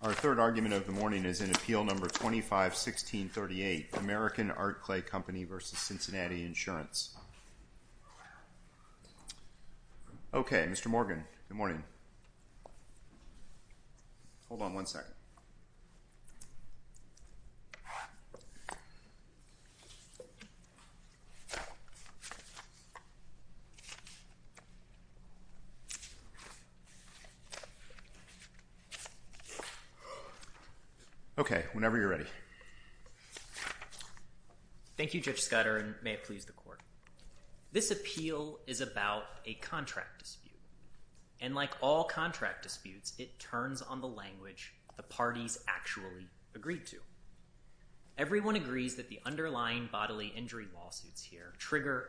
Our third argument of the morning is in Appeal No. 251638, American Art Clay Company v. Cincinnati Insurance. Okay, Mr. Morgan, good morning. Hold on one second. Okay, whenever you're ready. Thank you, Judge Scudder, and may it please the court. This appeal is about a contract dispute, and like all contract disputes, it turns on the language the parties actually agreed to. Everyone agrees that the underlying bodily injury lawsuits here trigger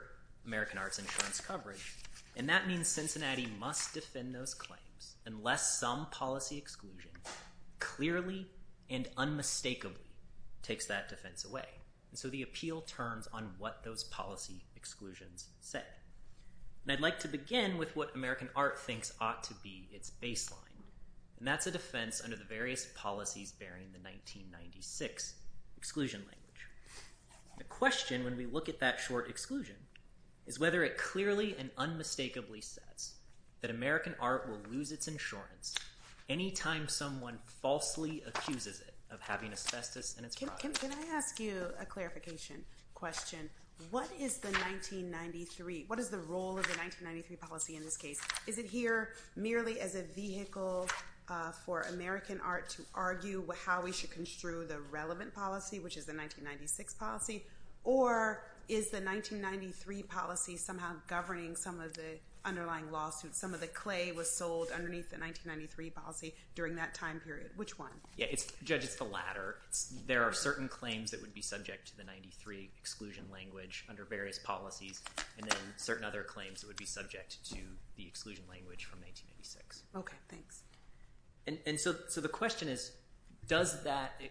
American Arts Insurance coverage, and that means Cincinnati must defend those claims unless some policy exclusion clearly and unmistakably takes that defense away. So the appeal turns on what those policy exclusions say. And I'd like to begin with what American Art thinks ought to be its baseline, and that's a defense under the various policies bearing the 1996 exclusion language. The question when we look at that short exclusion is whether it clearly and unmistakably says that American Art will lose its insurance anytime someone falsely accuses it of having asbestos in its product. Can I ask you a clarification question? What is the 1993? What is the role of the 1993 policy in this case? Is it here merely as a vehicle for American Art to argue how we should construe the relevant policy, which is the 1996 policy, or is the 1993 policy somehow governing some of the underlying lawsuits, some of the clay was sold underneath the 1993 policy during that time period? Which one? Yeah, Judge, it's the latter. There are certain claims that would be subject to the 93 exclusion language under various policies, and then certain other claims that would be subject to the exclusion language from 1986. Okay, thanks. And so the question is, does that,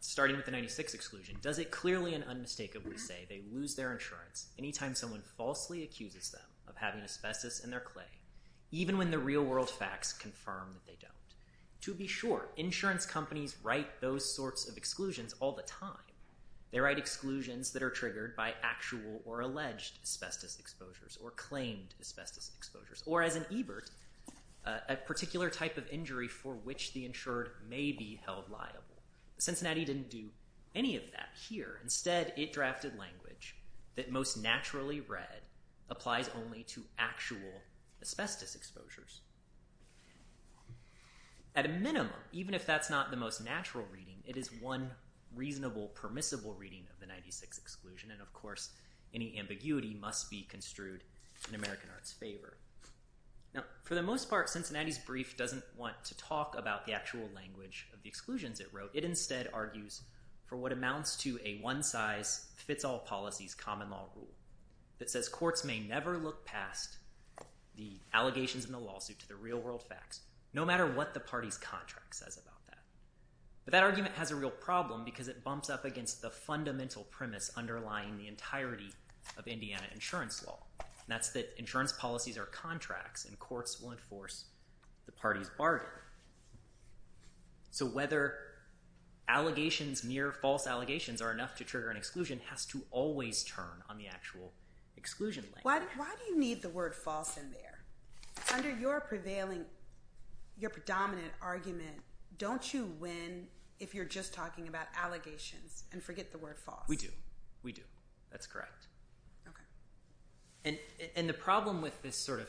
starting with the 96 exclusion, does it clearly and unmistakably say they lose their insurance anytime someone falsely accuses them of having asbestos in their clay, even when the real world facts confirm that they don't? To be sure, insurance companies write those sorts of exclusions all the time. They write exclusions that are triggered by actual or alleged asbestos exposures or claimed asbestos exposures, or as an EBERT, a particular type of injury for which the insured may be held liable. Cincinnati didn't do any of that here. Instead, it drafted language that most naturally read applies only to actual asbestos exposures. At a minimum, even if that's not the most natural reading, it is one reasonable permissible reading of the 96 exclusion, and of course, any ambiguity must be construed in American art's favor. Now, for the most part, Cincinnati's brief doesn't want to talk about the actual language of the exclusions it wrote. It instead argues for what amounts to a one-size-fits-all policies common law rule that says courts may never look past the allegations in the lawsuit to the real world facts, no matter what the party's contract says about that. But that argument has a real problem, because it bumps up against the fundamental premise underlying the entire entirety of Indiana insurance law, and that's that insurance policies are contracts, and courts will enforce the party's bargain. So whether allegations, mere false allegations are enough to trigger an exclusion has to always turn on the actual exclusion language. Why do you need the word false in there? Under your prevailing, your predominant argument, don't you win if you're just talking about allegations and forget the word false? We do. We do. That's correct. Okay. And the problem with this sort of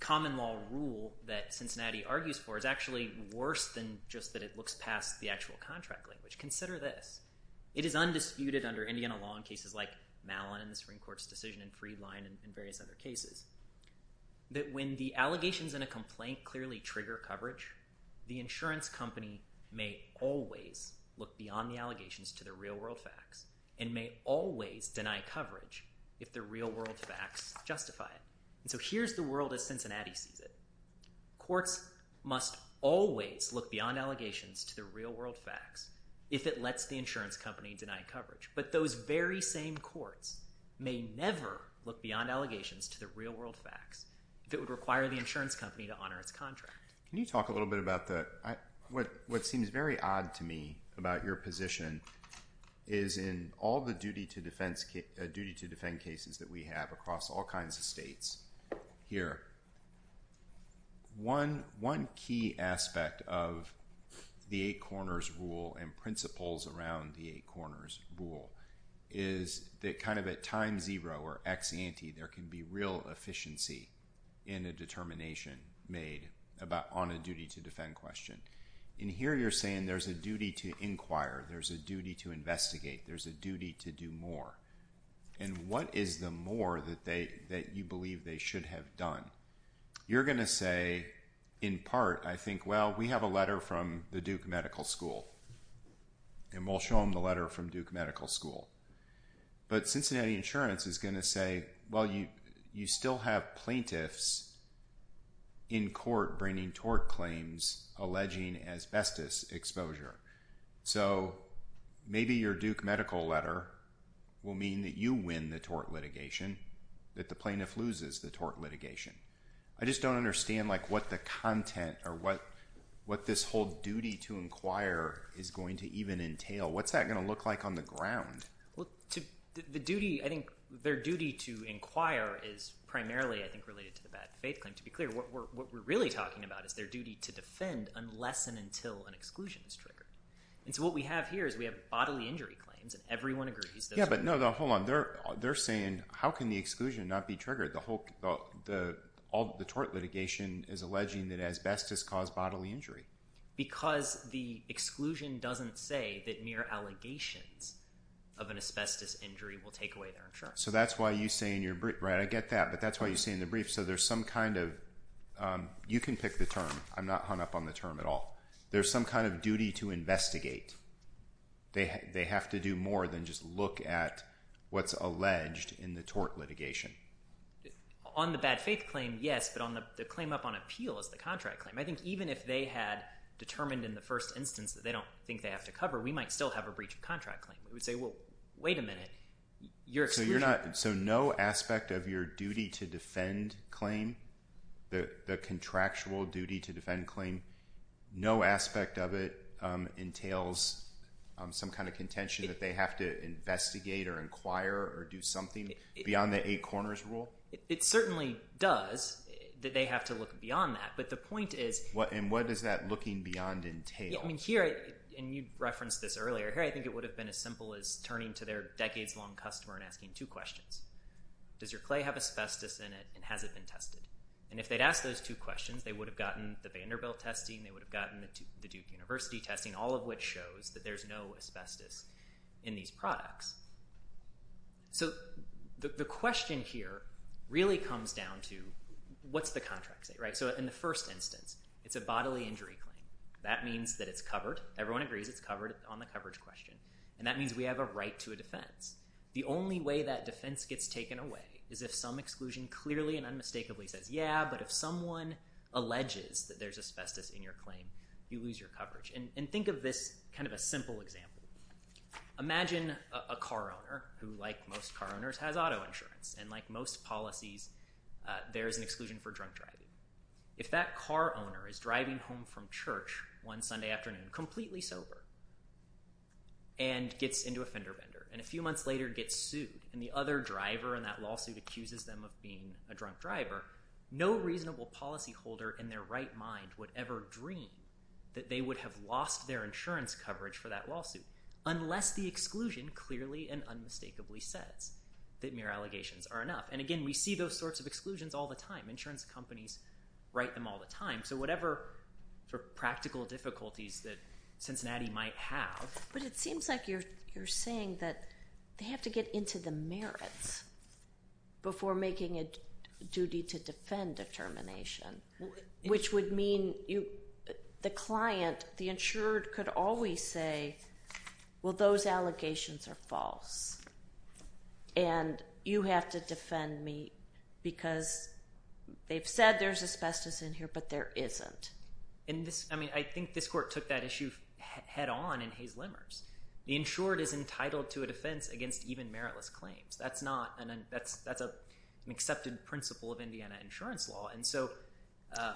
common law rule that Cincinnati argues for is actually worse than just that it looks past the actual contract language. Consider this. It is undisputed under Indiana law in cases like Mallon and the Supreme Court's decision in Freedline and various other cases, that when the allegations in a complaint clearly trigger coverage, the insurance company may always look beyond the allegations to the real world facts and may always deny coverage if the real world facts justify it. So here's the world as Cincinnati sees it. Courts must always look beyond allegations to the real world facts if it lets the insurance company deny coverage. But those very same courts may never look beyond allegations to the real world facts if it would require the insurance company to honor its contract. Can you talk a little bit about what seems very odd to me about your position is in all the duty to defend cases that we have across all kinds of states here. One key aspect of the eight corners rule and principles around the eight corners rule is that kind of at time zero or ex-ante, there can be real efficiency in a determination made on a duty to defend question. And here you're saying there's a duty to inquire, there's a duty to investigate, there's a duty to do more. And what is the more that you believe they should have done? You're going to say, in part, I think, well we have a letter from the Duke Medical School and we'll show them the letter from Duke Medical School. But Cincinnati Insurance is going to say, well you still have plaintiffs in court bringing tort claims alleging asbestos exposure. So maybe your Duke medical letter will mean that you win the tort litigation, that the plaintiff loses the tort litigation. I just don't understand what the content or what this whole duty to inquire is going to even entail. What's that going to look like on the ground? Their duty to inquire is primarily, I think, related to the bad faith claim. To be clear, what we're really talking about is their duty to defend unless and until an exclusion is triggered. And so what we have here is we have bodily injury claims and everyone agrees that... Yeah, but no, hold on. They're saying, how can the exclusion not be triggered? All the tort litigation is alleging that asbestos caused bodily injury. Because the exclusion doesn't say that mere allegations of an asbestos injury will take away their insurance. So that's why you say in your brief, right, I get that, but that's why you say in the brief. So there's some kind of, you can pick the term, I'm not hung up on the term at all. There's some kind of duty to investigate. They have to do more than just look at what's alleged in the tort litigation. On the bad faith claim, yes, but on the claim up on appeal is the contract claim. I think even if they had determined in the first instance that they don't think they have to cover, we might still have a breach of contract claim. We would say, well, wait a minute, your exclusion... So no aspect of your duty to defend claim, the contractual duty to defend claim, no aspect of it entails some kind of contention that they have to investigate or inquire or do something beyond the eight corners rule? It certainly does, that they have to look beyond that. But the point is... And what does that looking beyond entail? I mean, here, and you referenced this earlier, here I think it would have been as simple as turning to their decades long customer and asking two questions. Does your clay have asbestos in it and has it been tested? And if they'd asked those two questions, they would have gotten the Vanderbilt testing, they would have gotten the Duke University testing, all of which shows that there's no asbestos in these products. So the question here really comes down to, what's the contract say? So in the first instance, it's a bodily injury claim. That means that it's covered. Everyone agrees it's covered on the coverage question. And that means we have a right to a defense. The only way that defense gets taken away is if some exclusion clearly and unmistakably says, yeah, but if someone alleges that there's asbestos in your claim, you lose your coverage. And think of this kind of a simple example. Imagine a car owner who, like most car owners, has auto insurance. And like most policies, there is an exclusion for drunk driving. If that car owner is driving home from church one Sunday afternoon, completely sober, and gets into a fender bender, and a few months later gets sued, and the other driver in that lawsuit accuses them of being a drunk driver, no reasonable policy holder in their right mind would ever dream that they would have lost their insurance coverage for that lawsuit unless the exclusion clearly and unmistakably says that mere allegations are enough. And again, we see those sorts of exclusions all the time. Insurance companies write them all the time. So whatever sort of practical difficulties that Cincinnati might have. But it seems like you're saying that they have to get into the merits before making a duty to defend a termination, which would mean the client, the insured, could always say, well, those allegations are false. And you have to defend me because they've said there's asbestos in here, but there isn't. I think this court took that issue head on in Hayes-Lemers. The insured is entitled to a defense against even meritless claims. That's an accepted principle of Indiana insurance law.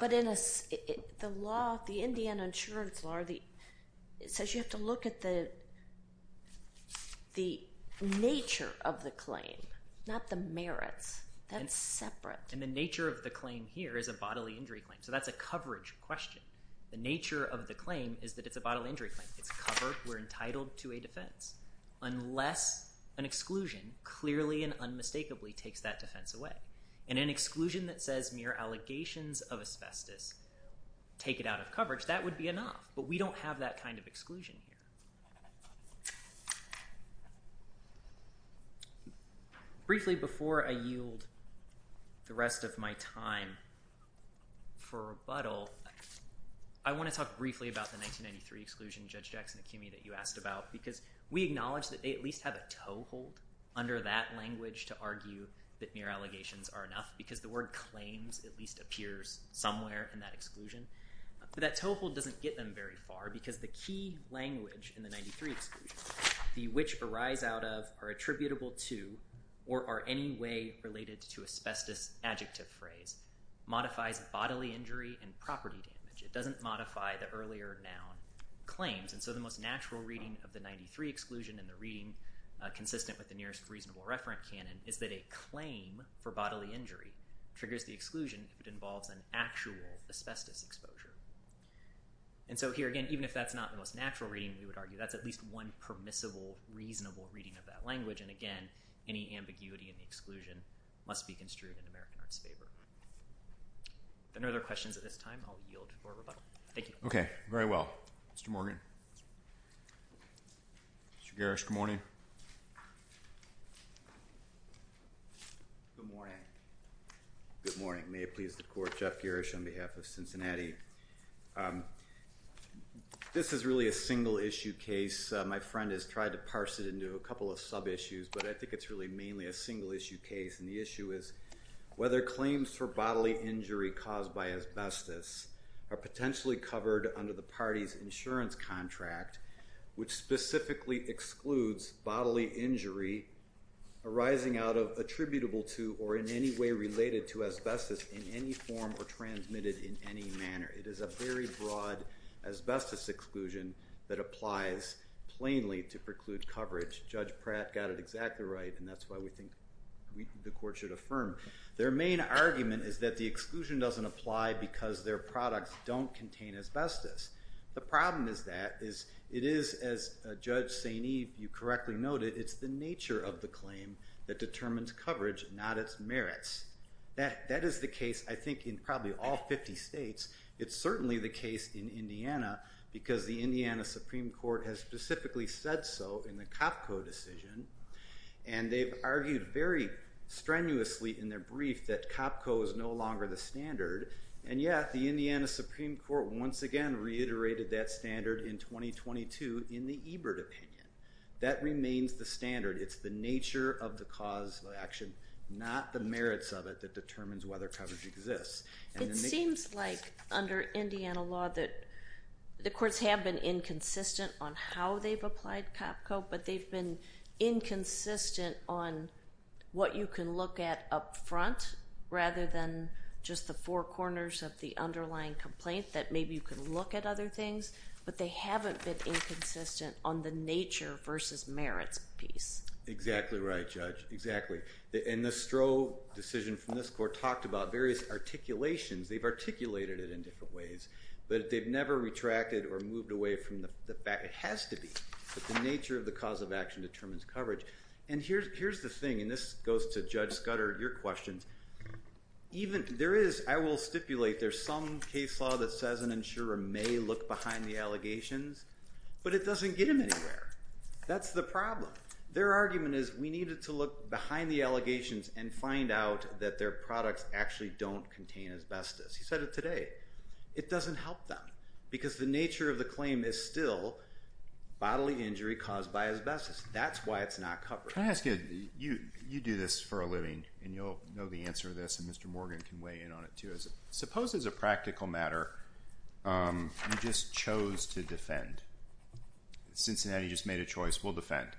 But the law, the Indiana insurance law, it says you have to look at the nature of the claim, not the merits. That's separate. And the nature of the claim here is a bodily injury claim. So that's a coverage question. The nature of the claim is that it's a bodily injury claim. It's covered. We're entitled to a defense unless an exclusion clearly and unmistakably takes that defense away. And an exclusion that says mere allegations of asbestos take it out of coverage, that would be enough. But we don't have that kind of exclusion here. Briefly before I yield the rest of my time for rebuttal, I want to talk briefly about the 1993 exclusion, Judge Jackson-Akimi, that you asked about, because we acknowledge that they at least have a toehold under that language to argue that mere allegations are enough, because the word claims at least appears somewhere in that exclusion. But that toehold doesn't get them very far, because the key language in the 93 exclusion, the which arise out of, are attributable to, or are anyway related to asbestos adjective phrase, modifies bodily injury and property damage. It doesn't modify the earlier noun claims. And so the most natural reading of the 93 exclusion and the reading consistent with the nearest reasonable referent canon is that a claim for bodily injury triggers the exclusion if it involves an actual asbestos exposure. And so here again, even if that's not the most natural reading, we would argue that's at least one permissible, reasonable reading of that language. And again, any ambiguity in the exclusion must be construed in American art's favor. If there are no other questions at this time, I'll yield for rebuttal. Thank you. Okay. Very well. Mr. Morgan. Mr. Garish, good morning. Good morning. Good morning. May it please the court, Jeff Garish on behalf of Cincinnati. This is really a single issue case. My friend has tried to parse it into a couple of sub-issues, but I think it's really mainly a single issue case. And the issue is whether claims for bodily injury caused by asbestos are potentially covered under the party's insurance contract, which specifically excludes bodily injury arising out of attributable to, or in any way related to asbestos in any form or transmitted in any manner. It is a very broad asbestos exclusion that applies plainly to preclude coverage. Judge Pratt got it exactly right, and that's why we think the court should affirm. Their main argument is that the exclusion doesn't apply because their products don't contain asbestos. The problem is that it is, as Judge St. Eve, you correctly noted, it's the nature of the claim that determines coverage, not its merits. That is the case, I think, in probably all 50 states. It's certainly the case in Indiana because the Indiana Supreme Court has specifically said so in the COPCO decision, and they've argued very strenuously in their brief that COPCO is no longer the standard, and yet the Indiana Supreme Court once again reiterated that standard in 2022 in the Ebert opinion. That remains the standard. It's the nature of the cause of action, not the merits of it that determines whether coverage exists. It seems like under Indiana law that the courts have been inconsistent on how they've applied COPCO, but they've been inconsistent on what you can look at up front rather than just the four corners of the underlying complaint that maybe you can look at other things, but they haven't been inconsistent on the nature versus merits piece. Exactly right, Judge. Exactly. And the Stroh decision from this court talked about various articulations. They've articulated it in different ways, but they've never retracted or moved away from the fact that it has to be that the nature of the cause of action determines coverage. And here's the thing, and this goes to Judge Scudder, your questions. I will stipulate there's some case law that says an insurer may look behind the allegations, but it doesn't get him anywhere. That's the problem. Their argument is we needed to look behind the allegations and find out that their products actually don't contain asbestos. He said it today. It doesn't help them because the nature of the claim is still bodily injury caused by asbestos. That's why it's not covered. Can I ask you, you do this for a living, and you'll know the answer to this, and Mr. Morgan can weigh in on it too. Suppose as a practical matter you just chose to defend. Cincinnati just made a choice. We'll defend.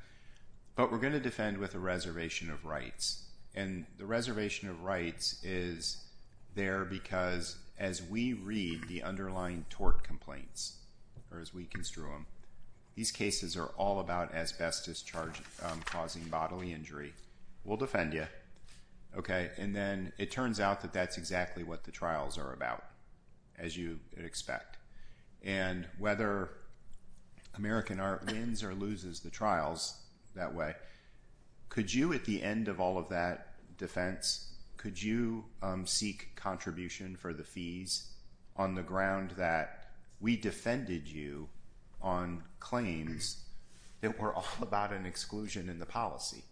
But we're going to defend with a reservation of rights. And the reservation of rights is there because as we read the underlying tort complaints, or as we construe them, these cases are all about asbestos causing bodily injury. We'll defend you. And then it turns out that that's exactly what the trials are about, as you expect. And whether American Art wins or loses the trials that way, could you at the end of all of that defense, could you seek contribution for the fees on the ground that we defended you on claims that were all about an exclusion in the policy?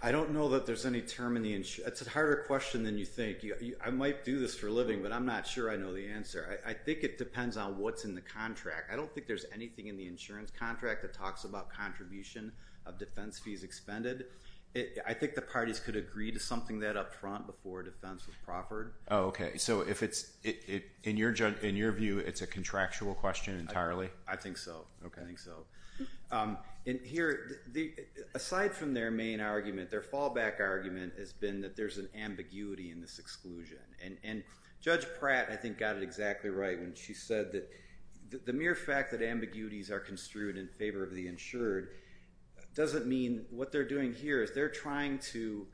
I don't know that there's any term in the insurance. It's a harder question than you think. I might do this for a living, but I'm not sure I know the answer. I think it depends on what's in the contract. I don't think there's anything in the insurance contract that talks about contribution of defense fees expended. I think the parties could agree to something that up front before defense was proffered. Oh, okay. So in your view, it's a contractual question entirely? I think so. I think so. And here, aside from their main argument, their fallback argument has been that there's an ambiguity in this exclusion. And Judge Pratt, I think, got it exactly right when she said that the mere fact that ambiguities are construed in favor of the insured doesn't mean what they're doing here is they're trying to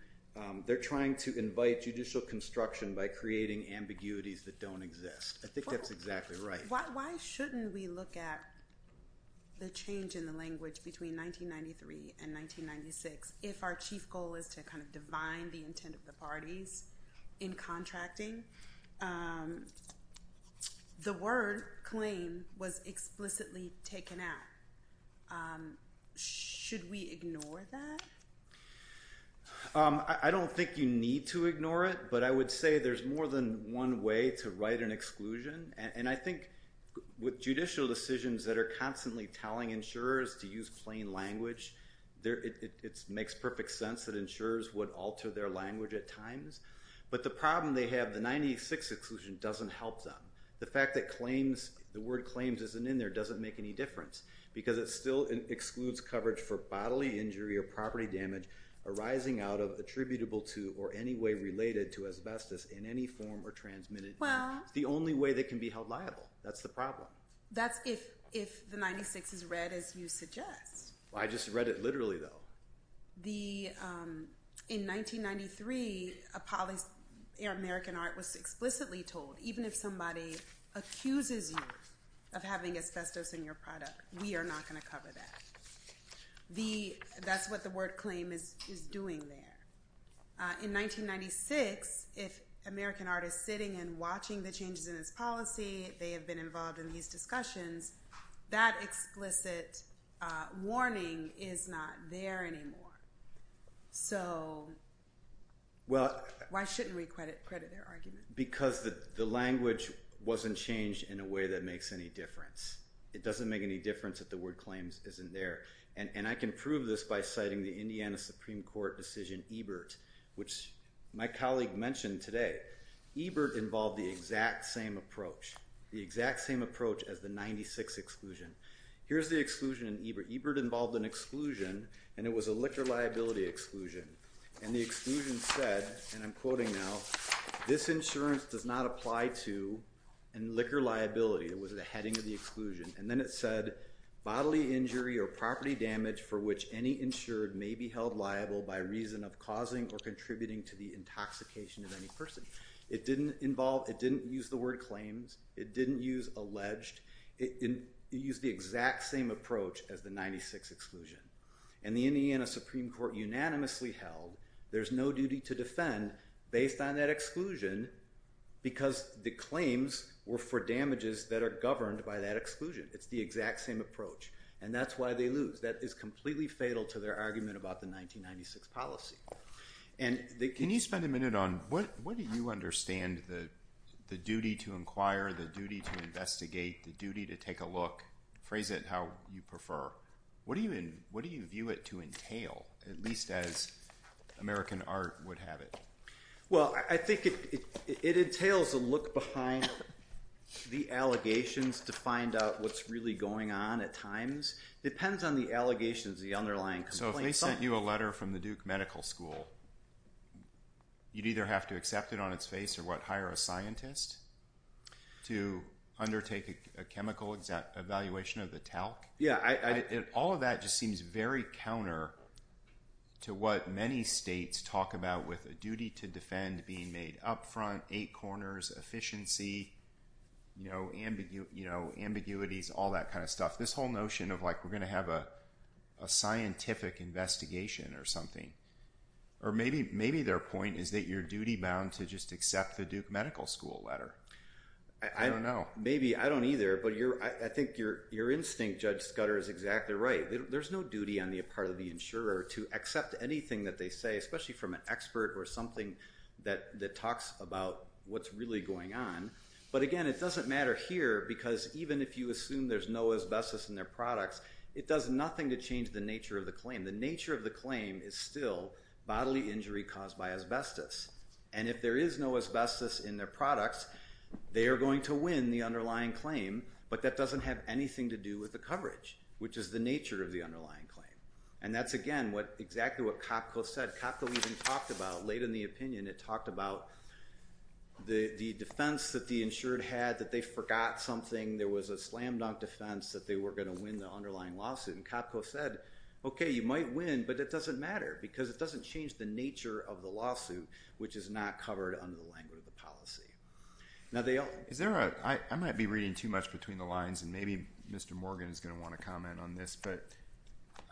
invite judicial construction by creating ambiguities that don't exist. I think that's exactly right. Why shouldn't we look at the change in the language between 1993 and 1996 if our chief goal is to kind of divine the intent of the parties in contracting? The word claim was explicitly taken out. Should we ignore that? I don't think you need to ignore it, but I would say there's more than one way to write an exclusion. And I think with judicial decisions that are constantly telling insurers to use plain language, it makes perfect sense that insurers would alter their language at times. But the problem they have, the 1996 exclusion doesn't help them. The fact that the word claims isn't in there doesn't make any difference, because it still excludes coverage for bodily injury or property damage arising out of, attributable to, or any way related to asbestos in any form or transmitted. It's the only way they can be held liable. That's the problem. That's if the 96 is read as you suggest. I just read it literally, though. In 1993, American art was explicitly told, even if somebody accuses you of having asbestos in your product, we are not going to cover that. That's what the word claim is doing there. In 1996, if American art is sitting and watching the changes in its policy, they have been involved in these discussions, that explicit warning is not there anymore. So why shouldn't we credit their argument? Because the language wasn't changed in a way that makes any difference. It doesn't make any difference if the word claims isn't there. And I can prove this by citing the Indiana Supreme Court decision Ebert, which my colleague mentioned today. Ebert involved the exact same approach, the exact same approach as the 96 exclusion. Here's the exclusion in Ebert. Ebert involved an exclusion, and it was a liquor liability exclusion. And the exclusion said, and I'm quoting now, this insurance does not apply to liquor liability. It was the heading of the exclusion. And then it said, bodily injury or property damage for which any insured may be held liable by reason of causing or contributing to the intoxication of any person. It didn't involve, it didn't use the word claims. It didn't use alleged. It used the exact same approach as the 96 exclusion. And the Indiana Supreme Court unanimously held there's no duty to defend based on that exclusion because the claims were for damages that are governed by that exclusion. It's the exact same approach, and that's why they lose. That is completely fatal to their argument about the 1996 policy. Can you spend a minute on what do you understand the duty to inquire, the duty to investigate, the duty to take a look, phrase it how you prefer, what do you view it to entail, at least as American art would have it? Well, I think it entails a look behind the allegations to find out what's really going on at times. It depends on the allegations, the underlying complaint. So if they sent you a letter from the Duke Medical School, you'd either have to accept it on its face or what, hire a scientist to undertake a chemical evaluation of the talc? All of that just seems very counter to what many states talk about with a duty to defend being made up front, eight corners, efficiency, ambiguities, all that kind of stuff. This whole notion of we're going to have a scientific investigation or something. Or maybe their point is that you're duty bound to just accept the Duke Medical School letter. I don't know. Maybe. I don't either. But I think your instinct, Judge Scudder, is exactly right. There's no duty on the part of the insurer to accept anything that they say, especially from an expert or something that talks about what's really going on. But again, it doesn't matter here because even if you assume there's no asbestos in their products, it does nothing to change the nature of the claim. The nature of the claim is still bodily injury caused by asbestos. And if there is no asbestos in their products, they are going to win the underlying claim, but that doesn't have anything to do with the coverage, which is the nature of the underlying claim. And that's, again, exactly what COPCO said. COPCO even talked about, late in the opinion, it talked about the defense that the insured had that they forgot something. There was a slam dunk defense that they were going to win the underlying lawsuit. And COPCO said, okay, you might win, but it doesn't matter because it doesn't change the nature of the lawsuit, which is not covered under the language of the policy. I might be reading too much between the lines, and maybe Mr. Morgan is going to want to comment on this, but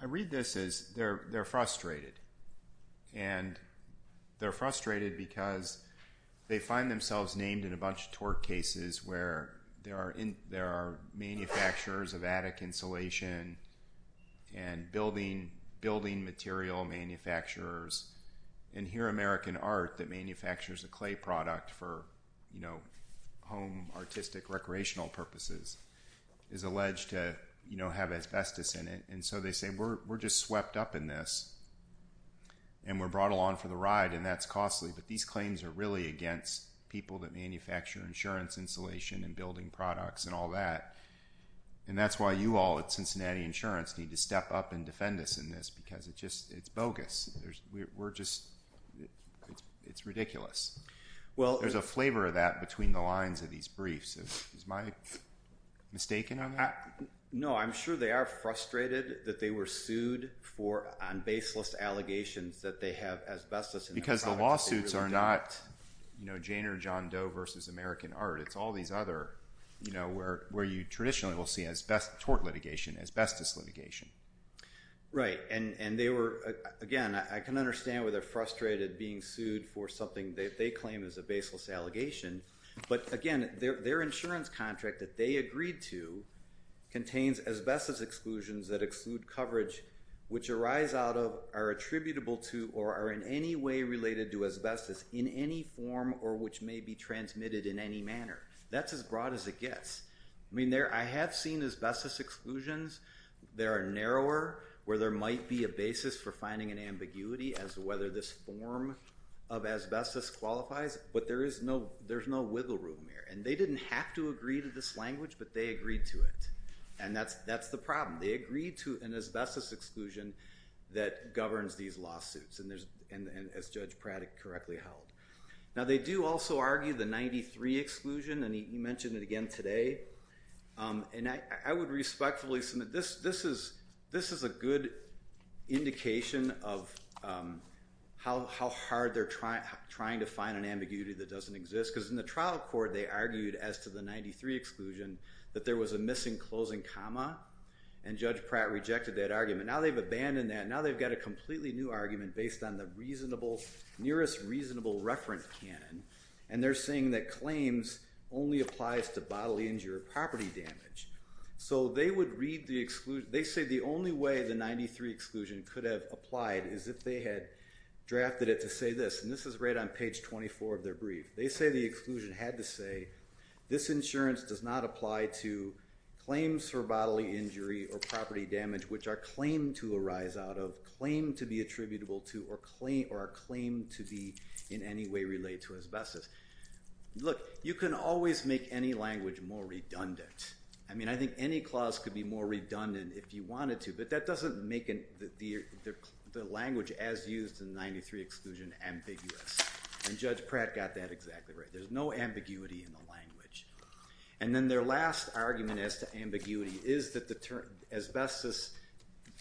I read this as they're frustrated. And they're frustrated because they find themselves named in a bunch of tort cases where there are manufacturers of attic insulation and building material manufacturers. And here American Art, that manufactures a clay product for home artistic recreational purposes, is alleged to have asbestos in it. And so they say, we're just swept up in this, and we're brought along for the ride, and that's costly. But these claims are really against people that manufacture insurance insulation and building products and all that. And that's why you all at Cincinnati Insurance need to step up and defend us in this, because it's bogus. We're just, it's ridiculous. There's a flavor of that between the lines of these briefs. Is my mistaken on that? No, I'm sure they are frustrated that they were sued on baseless allegations that they have asbestos in their products. Because the lawsuits are not Jane or John Doe versus American Art. It's all these other, where you traditionally will see asbestos litigation. Right. And they were, again, I can understand why they're frustrated being sued for something that they claim is a baseless allegation. But again, their insurance contract that they agreed to contains asbestos exclusions that exclude coverage, which arise out of, are attributable to, or are in any way related to asbestos in any form or which may be transmitted in any manner. That's as broad as it gets. I mean, I have seen asbestos exclusions. There are narrower, where there might be a basis for finding an ambiguity as to whether this form of asbestos qualifies. But there is no, there's no wiggle room here. And they didn't have to agree to this language, but they agreed to it. And that's the problem. They agreed to an asbestos exclusion that governs these lawsuits, and as Judge Pratt correctly held. Now, they do also argue the 93 exclusion, and he mentioned it again today. And I would respectfully submit, this is a good indication of how hard they're trying to find an ambiguity that doesn't exist. Because in the trial court, they argued as to the 93 exclusion, that there was a missing closing comma. And Judge Pratt rejected that argument. Now they've abandoned that. Now they've got a completely new argument based on the reasonable, nearest reasonable reference canon. And they're saying that claims only applies to bodily injury or property damage. So they would read the exclusion, they say the only way the 93 exclusion could have applied is if they had drafted it to say this. And this is right on page 24 of their brief. They say the exclusion had to say, this insurance does not apply to claims for bodily injury or property damage, which are claimed to arise out of, claimed to be attributable to, or are claimed to be in any way related to asbestos. Look, you can always make any language more redundant. I mean, I think any clause could be more redundant if you wanted to. But that doesn't make the language as used in the 93 exclusion ambiguous. And Judge Pratt got that exactly right. There's no ambiguity in the language. And then their last argument as to ambiguity is that asbestos,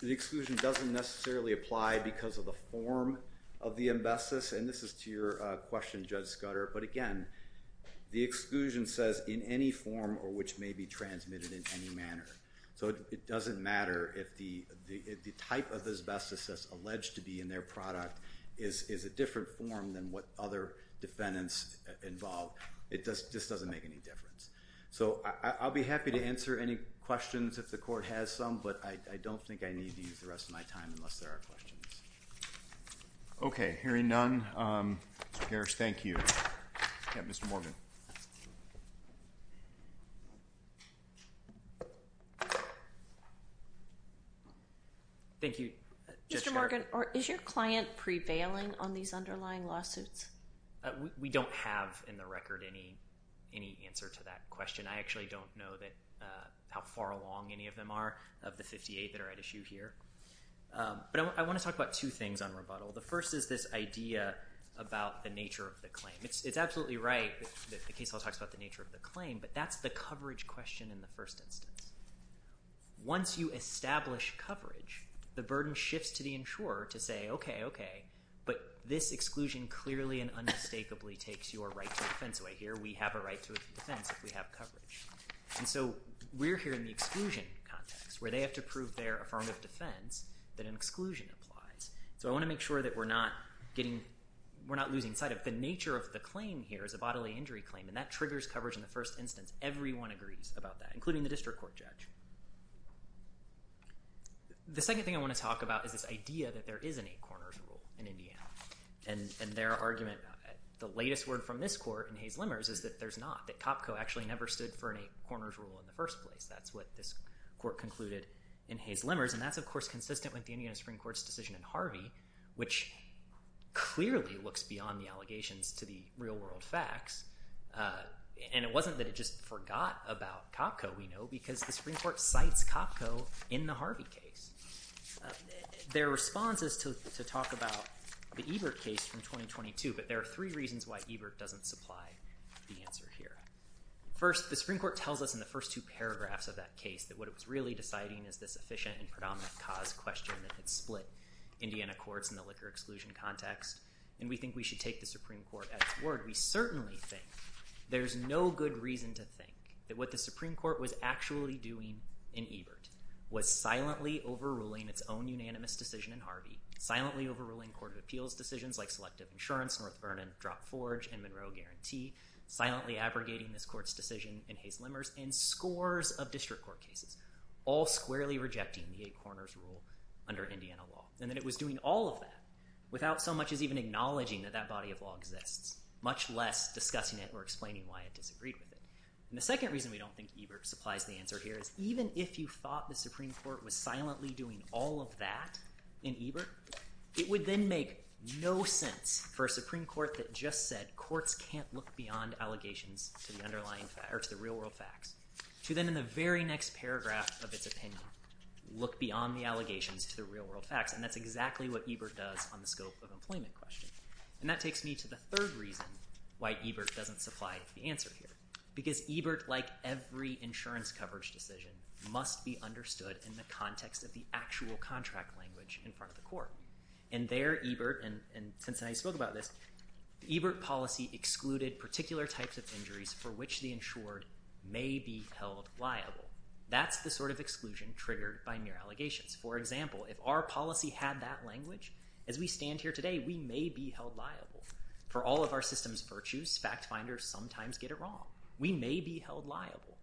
the exclusion doesn't necessarily apply because of the form of the asbestos. And this is to your question, Judge Scudder. But again, the exclusion says in any form or which may be transmitted in any manner. So it doesn't matter if the type of asbestos that's alleged to be in their product is a different form than what other defendants involved. It just doesn't make any difference. So I'll be happy to answer any questions if the court has some. But I don't think I need to use the rest of my time unless there are questions. Okay. Hearing none, Mr. Parrish, thank you. Mr. Morgan. Thank you, Judge Scudder. Mr. Morgan, is your client prevailing on these underlying lawsuits? We don't have in the record any answer to that question. I actually don't know how far along any of them are of the 58 that are at issue here. But I want to talk about two things on rebuttal. The first is this idea about the nature of the claim. It's absolutely right that the case law talks about the nature of the claim, but that's the coverage question in the first instance. Once you establish coverage, the burden shifts to the insurer to say, okay, okay, but this exclusion clearly and unmistakably takes your right to defense away here. We have a right to a defense if we have coverage. And so we're here in the exclusion context where they have to prove their affirmative defense that an exclusion applies. So I want to make sure that we're not losing sight of the nature of the claim here as a bodily injury claim, and that triggers coverage in the first instance. Everyone agrees about that, including the district court judge. The second thing I want to talk about is this idea that there is an eight-corners rule in Indiana. And their argument, the latest word from this court in Hayes-Lemmers is that there's not, that COPCO actually never stood for an eight-corners rule in the first place. That's what this court concluded in Hayes-Lemmers, and that's, of course, consistent with the Indiana Supreme Court's decision in Harvey, which clearly looks beyond the allegations to the real-world facts. And it wasn't that it just forgot about COPCO, we know, because the Supreme Court cites COPCO in the Harvey case. Their response is to talk about the Ebert case from 2022, but there are three reasons why Ebert doesn't supply the answer here. First, the Supreme Court tells us in the first two paragraphs of that case that what it was really deciding is this efficient and predominant cause question that had split Indiana courts in the liquor-exclusion context. And we think we should take the Supreme Court at its word. We certainly think there's no good reason to think that what the Supreme Court was actually doing in Ebert was silently overruling its own unanimous decision in Harvey, silently overruling court of appeals decisions like selective insurance, North Vernon drop-forge, and Monroe guarantee, silently abrogating this court's decision in Hayes-Lemmers, and scores of district court cases, all squarely rejecting the eight corners rule under Indiana law. And that it was doing all of that without so much as even acknowledging that that body of law exists, much less discussing it or explaining why it disagreed with it. And the second reason we don't think Ebert supplies the answer here is, even if you thought the Supreme Court was silently doing all of that in Ebert, it would then make no sense for a Supreme Court that just said that courts can't look beyond allegations to the real-world facts to then in the very next paragraph of its opinion look beyond the allegations to the real-world facts. And that's exactly what Ebert does on the scope of employment question. And that takes me to the third reason why Ebert doesn't supply the answer here, because Ebert, like every insurance coverage decision, must be understood in the context of the actual contract language in front of the court. And there Ebert, and since I spoke about this, Ebert policy excluded particular types of injuries for which the insured may be held liable. That's the sort of exclusion triggered by mere allegations. For example, if our policy had that language, as we stand here today, we may be held liable. For all of our system's virtues, fact finders sometimes get it wrong. We may be held liable.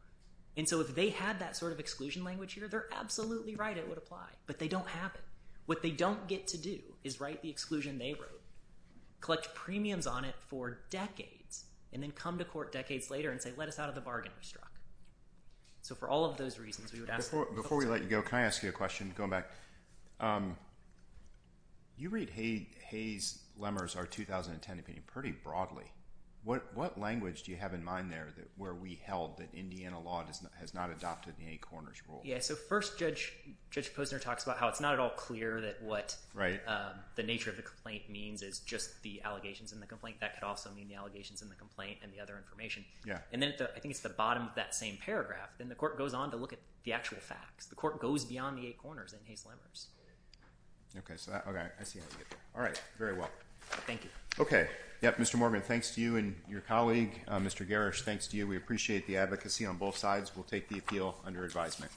And so if they had that sort of exclusion language here, they're absolutely right, it would apply. But they don't have it. What they don't get to do is write the exclusion they wrote, collect premiums on it for decades, and then come to court decades later and say, let us out of the bargain we struck. So for all of those reasons, we would ask that. Before we let you go, can I ask you a question, going back? You read Hayes-Lemmer's 2010 opinion pretty broadly. What language do you have in mind there where we held that Indiana law has not adopted the eight corners rule? Yeah, so first Judge Posner talks about how it's not at all clear that what the nature of the complaint means is just the allegations in the complaint. That could also mean the allegations in the complaint and the other information. And then I think it's the bottom of that same paragraph. Then the court goes on to look at the actual facts. The court goes beyond the eight corners in Hayes-Lemmer's. Okay, so I see how you get there. All right, very well. Thank you. Okay. Mr. Morgan, thanks to you and your colleague. Mr. Garrish, thanks to you. We appreciate the advocacy on both sides. We'll take the appeal under advisement.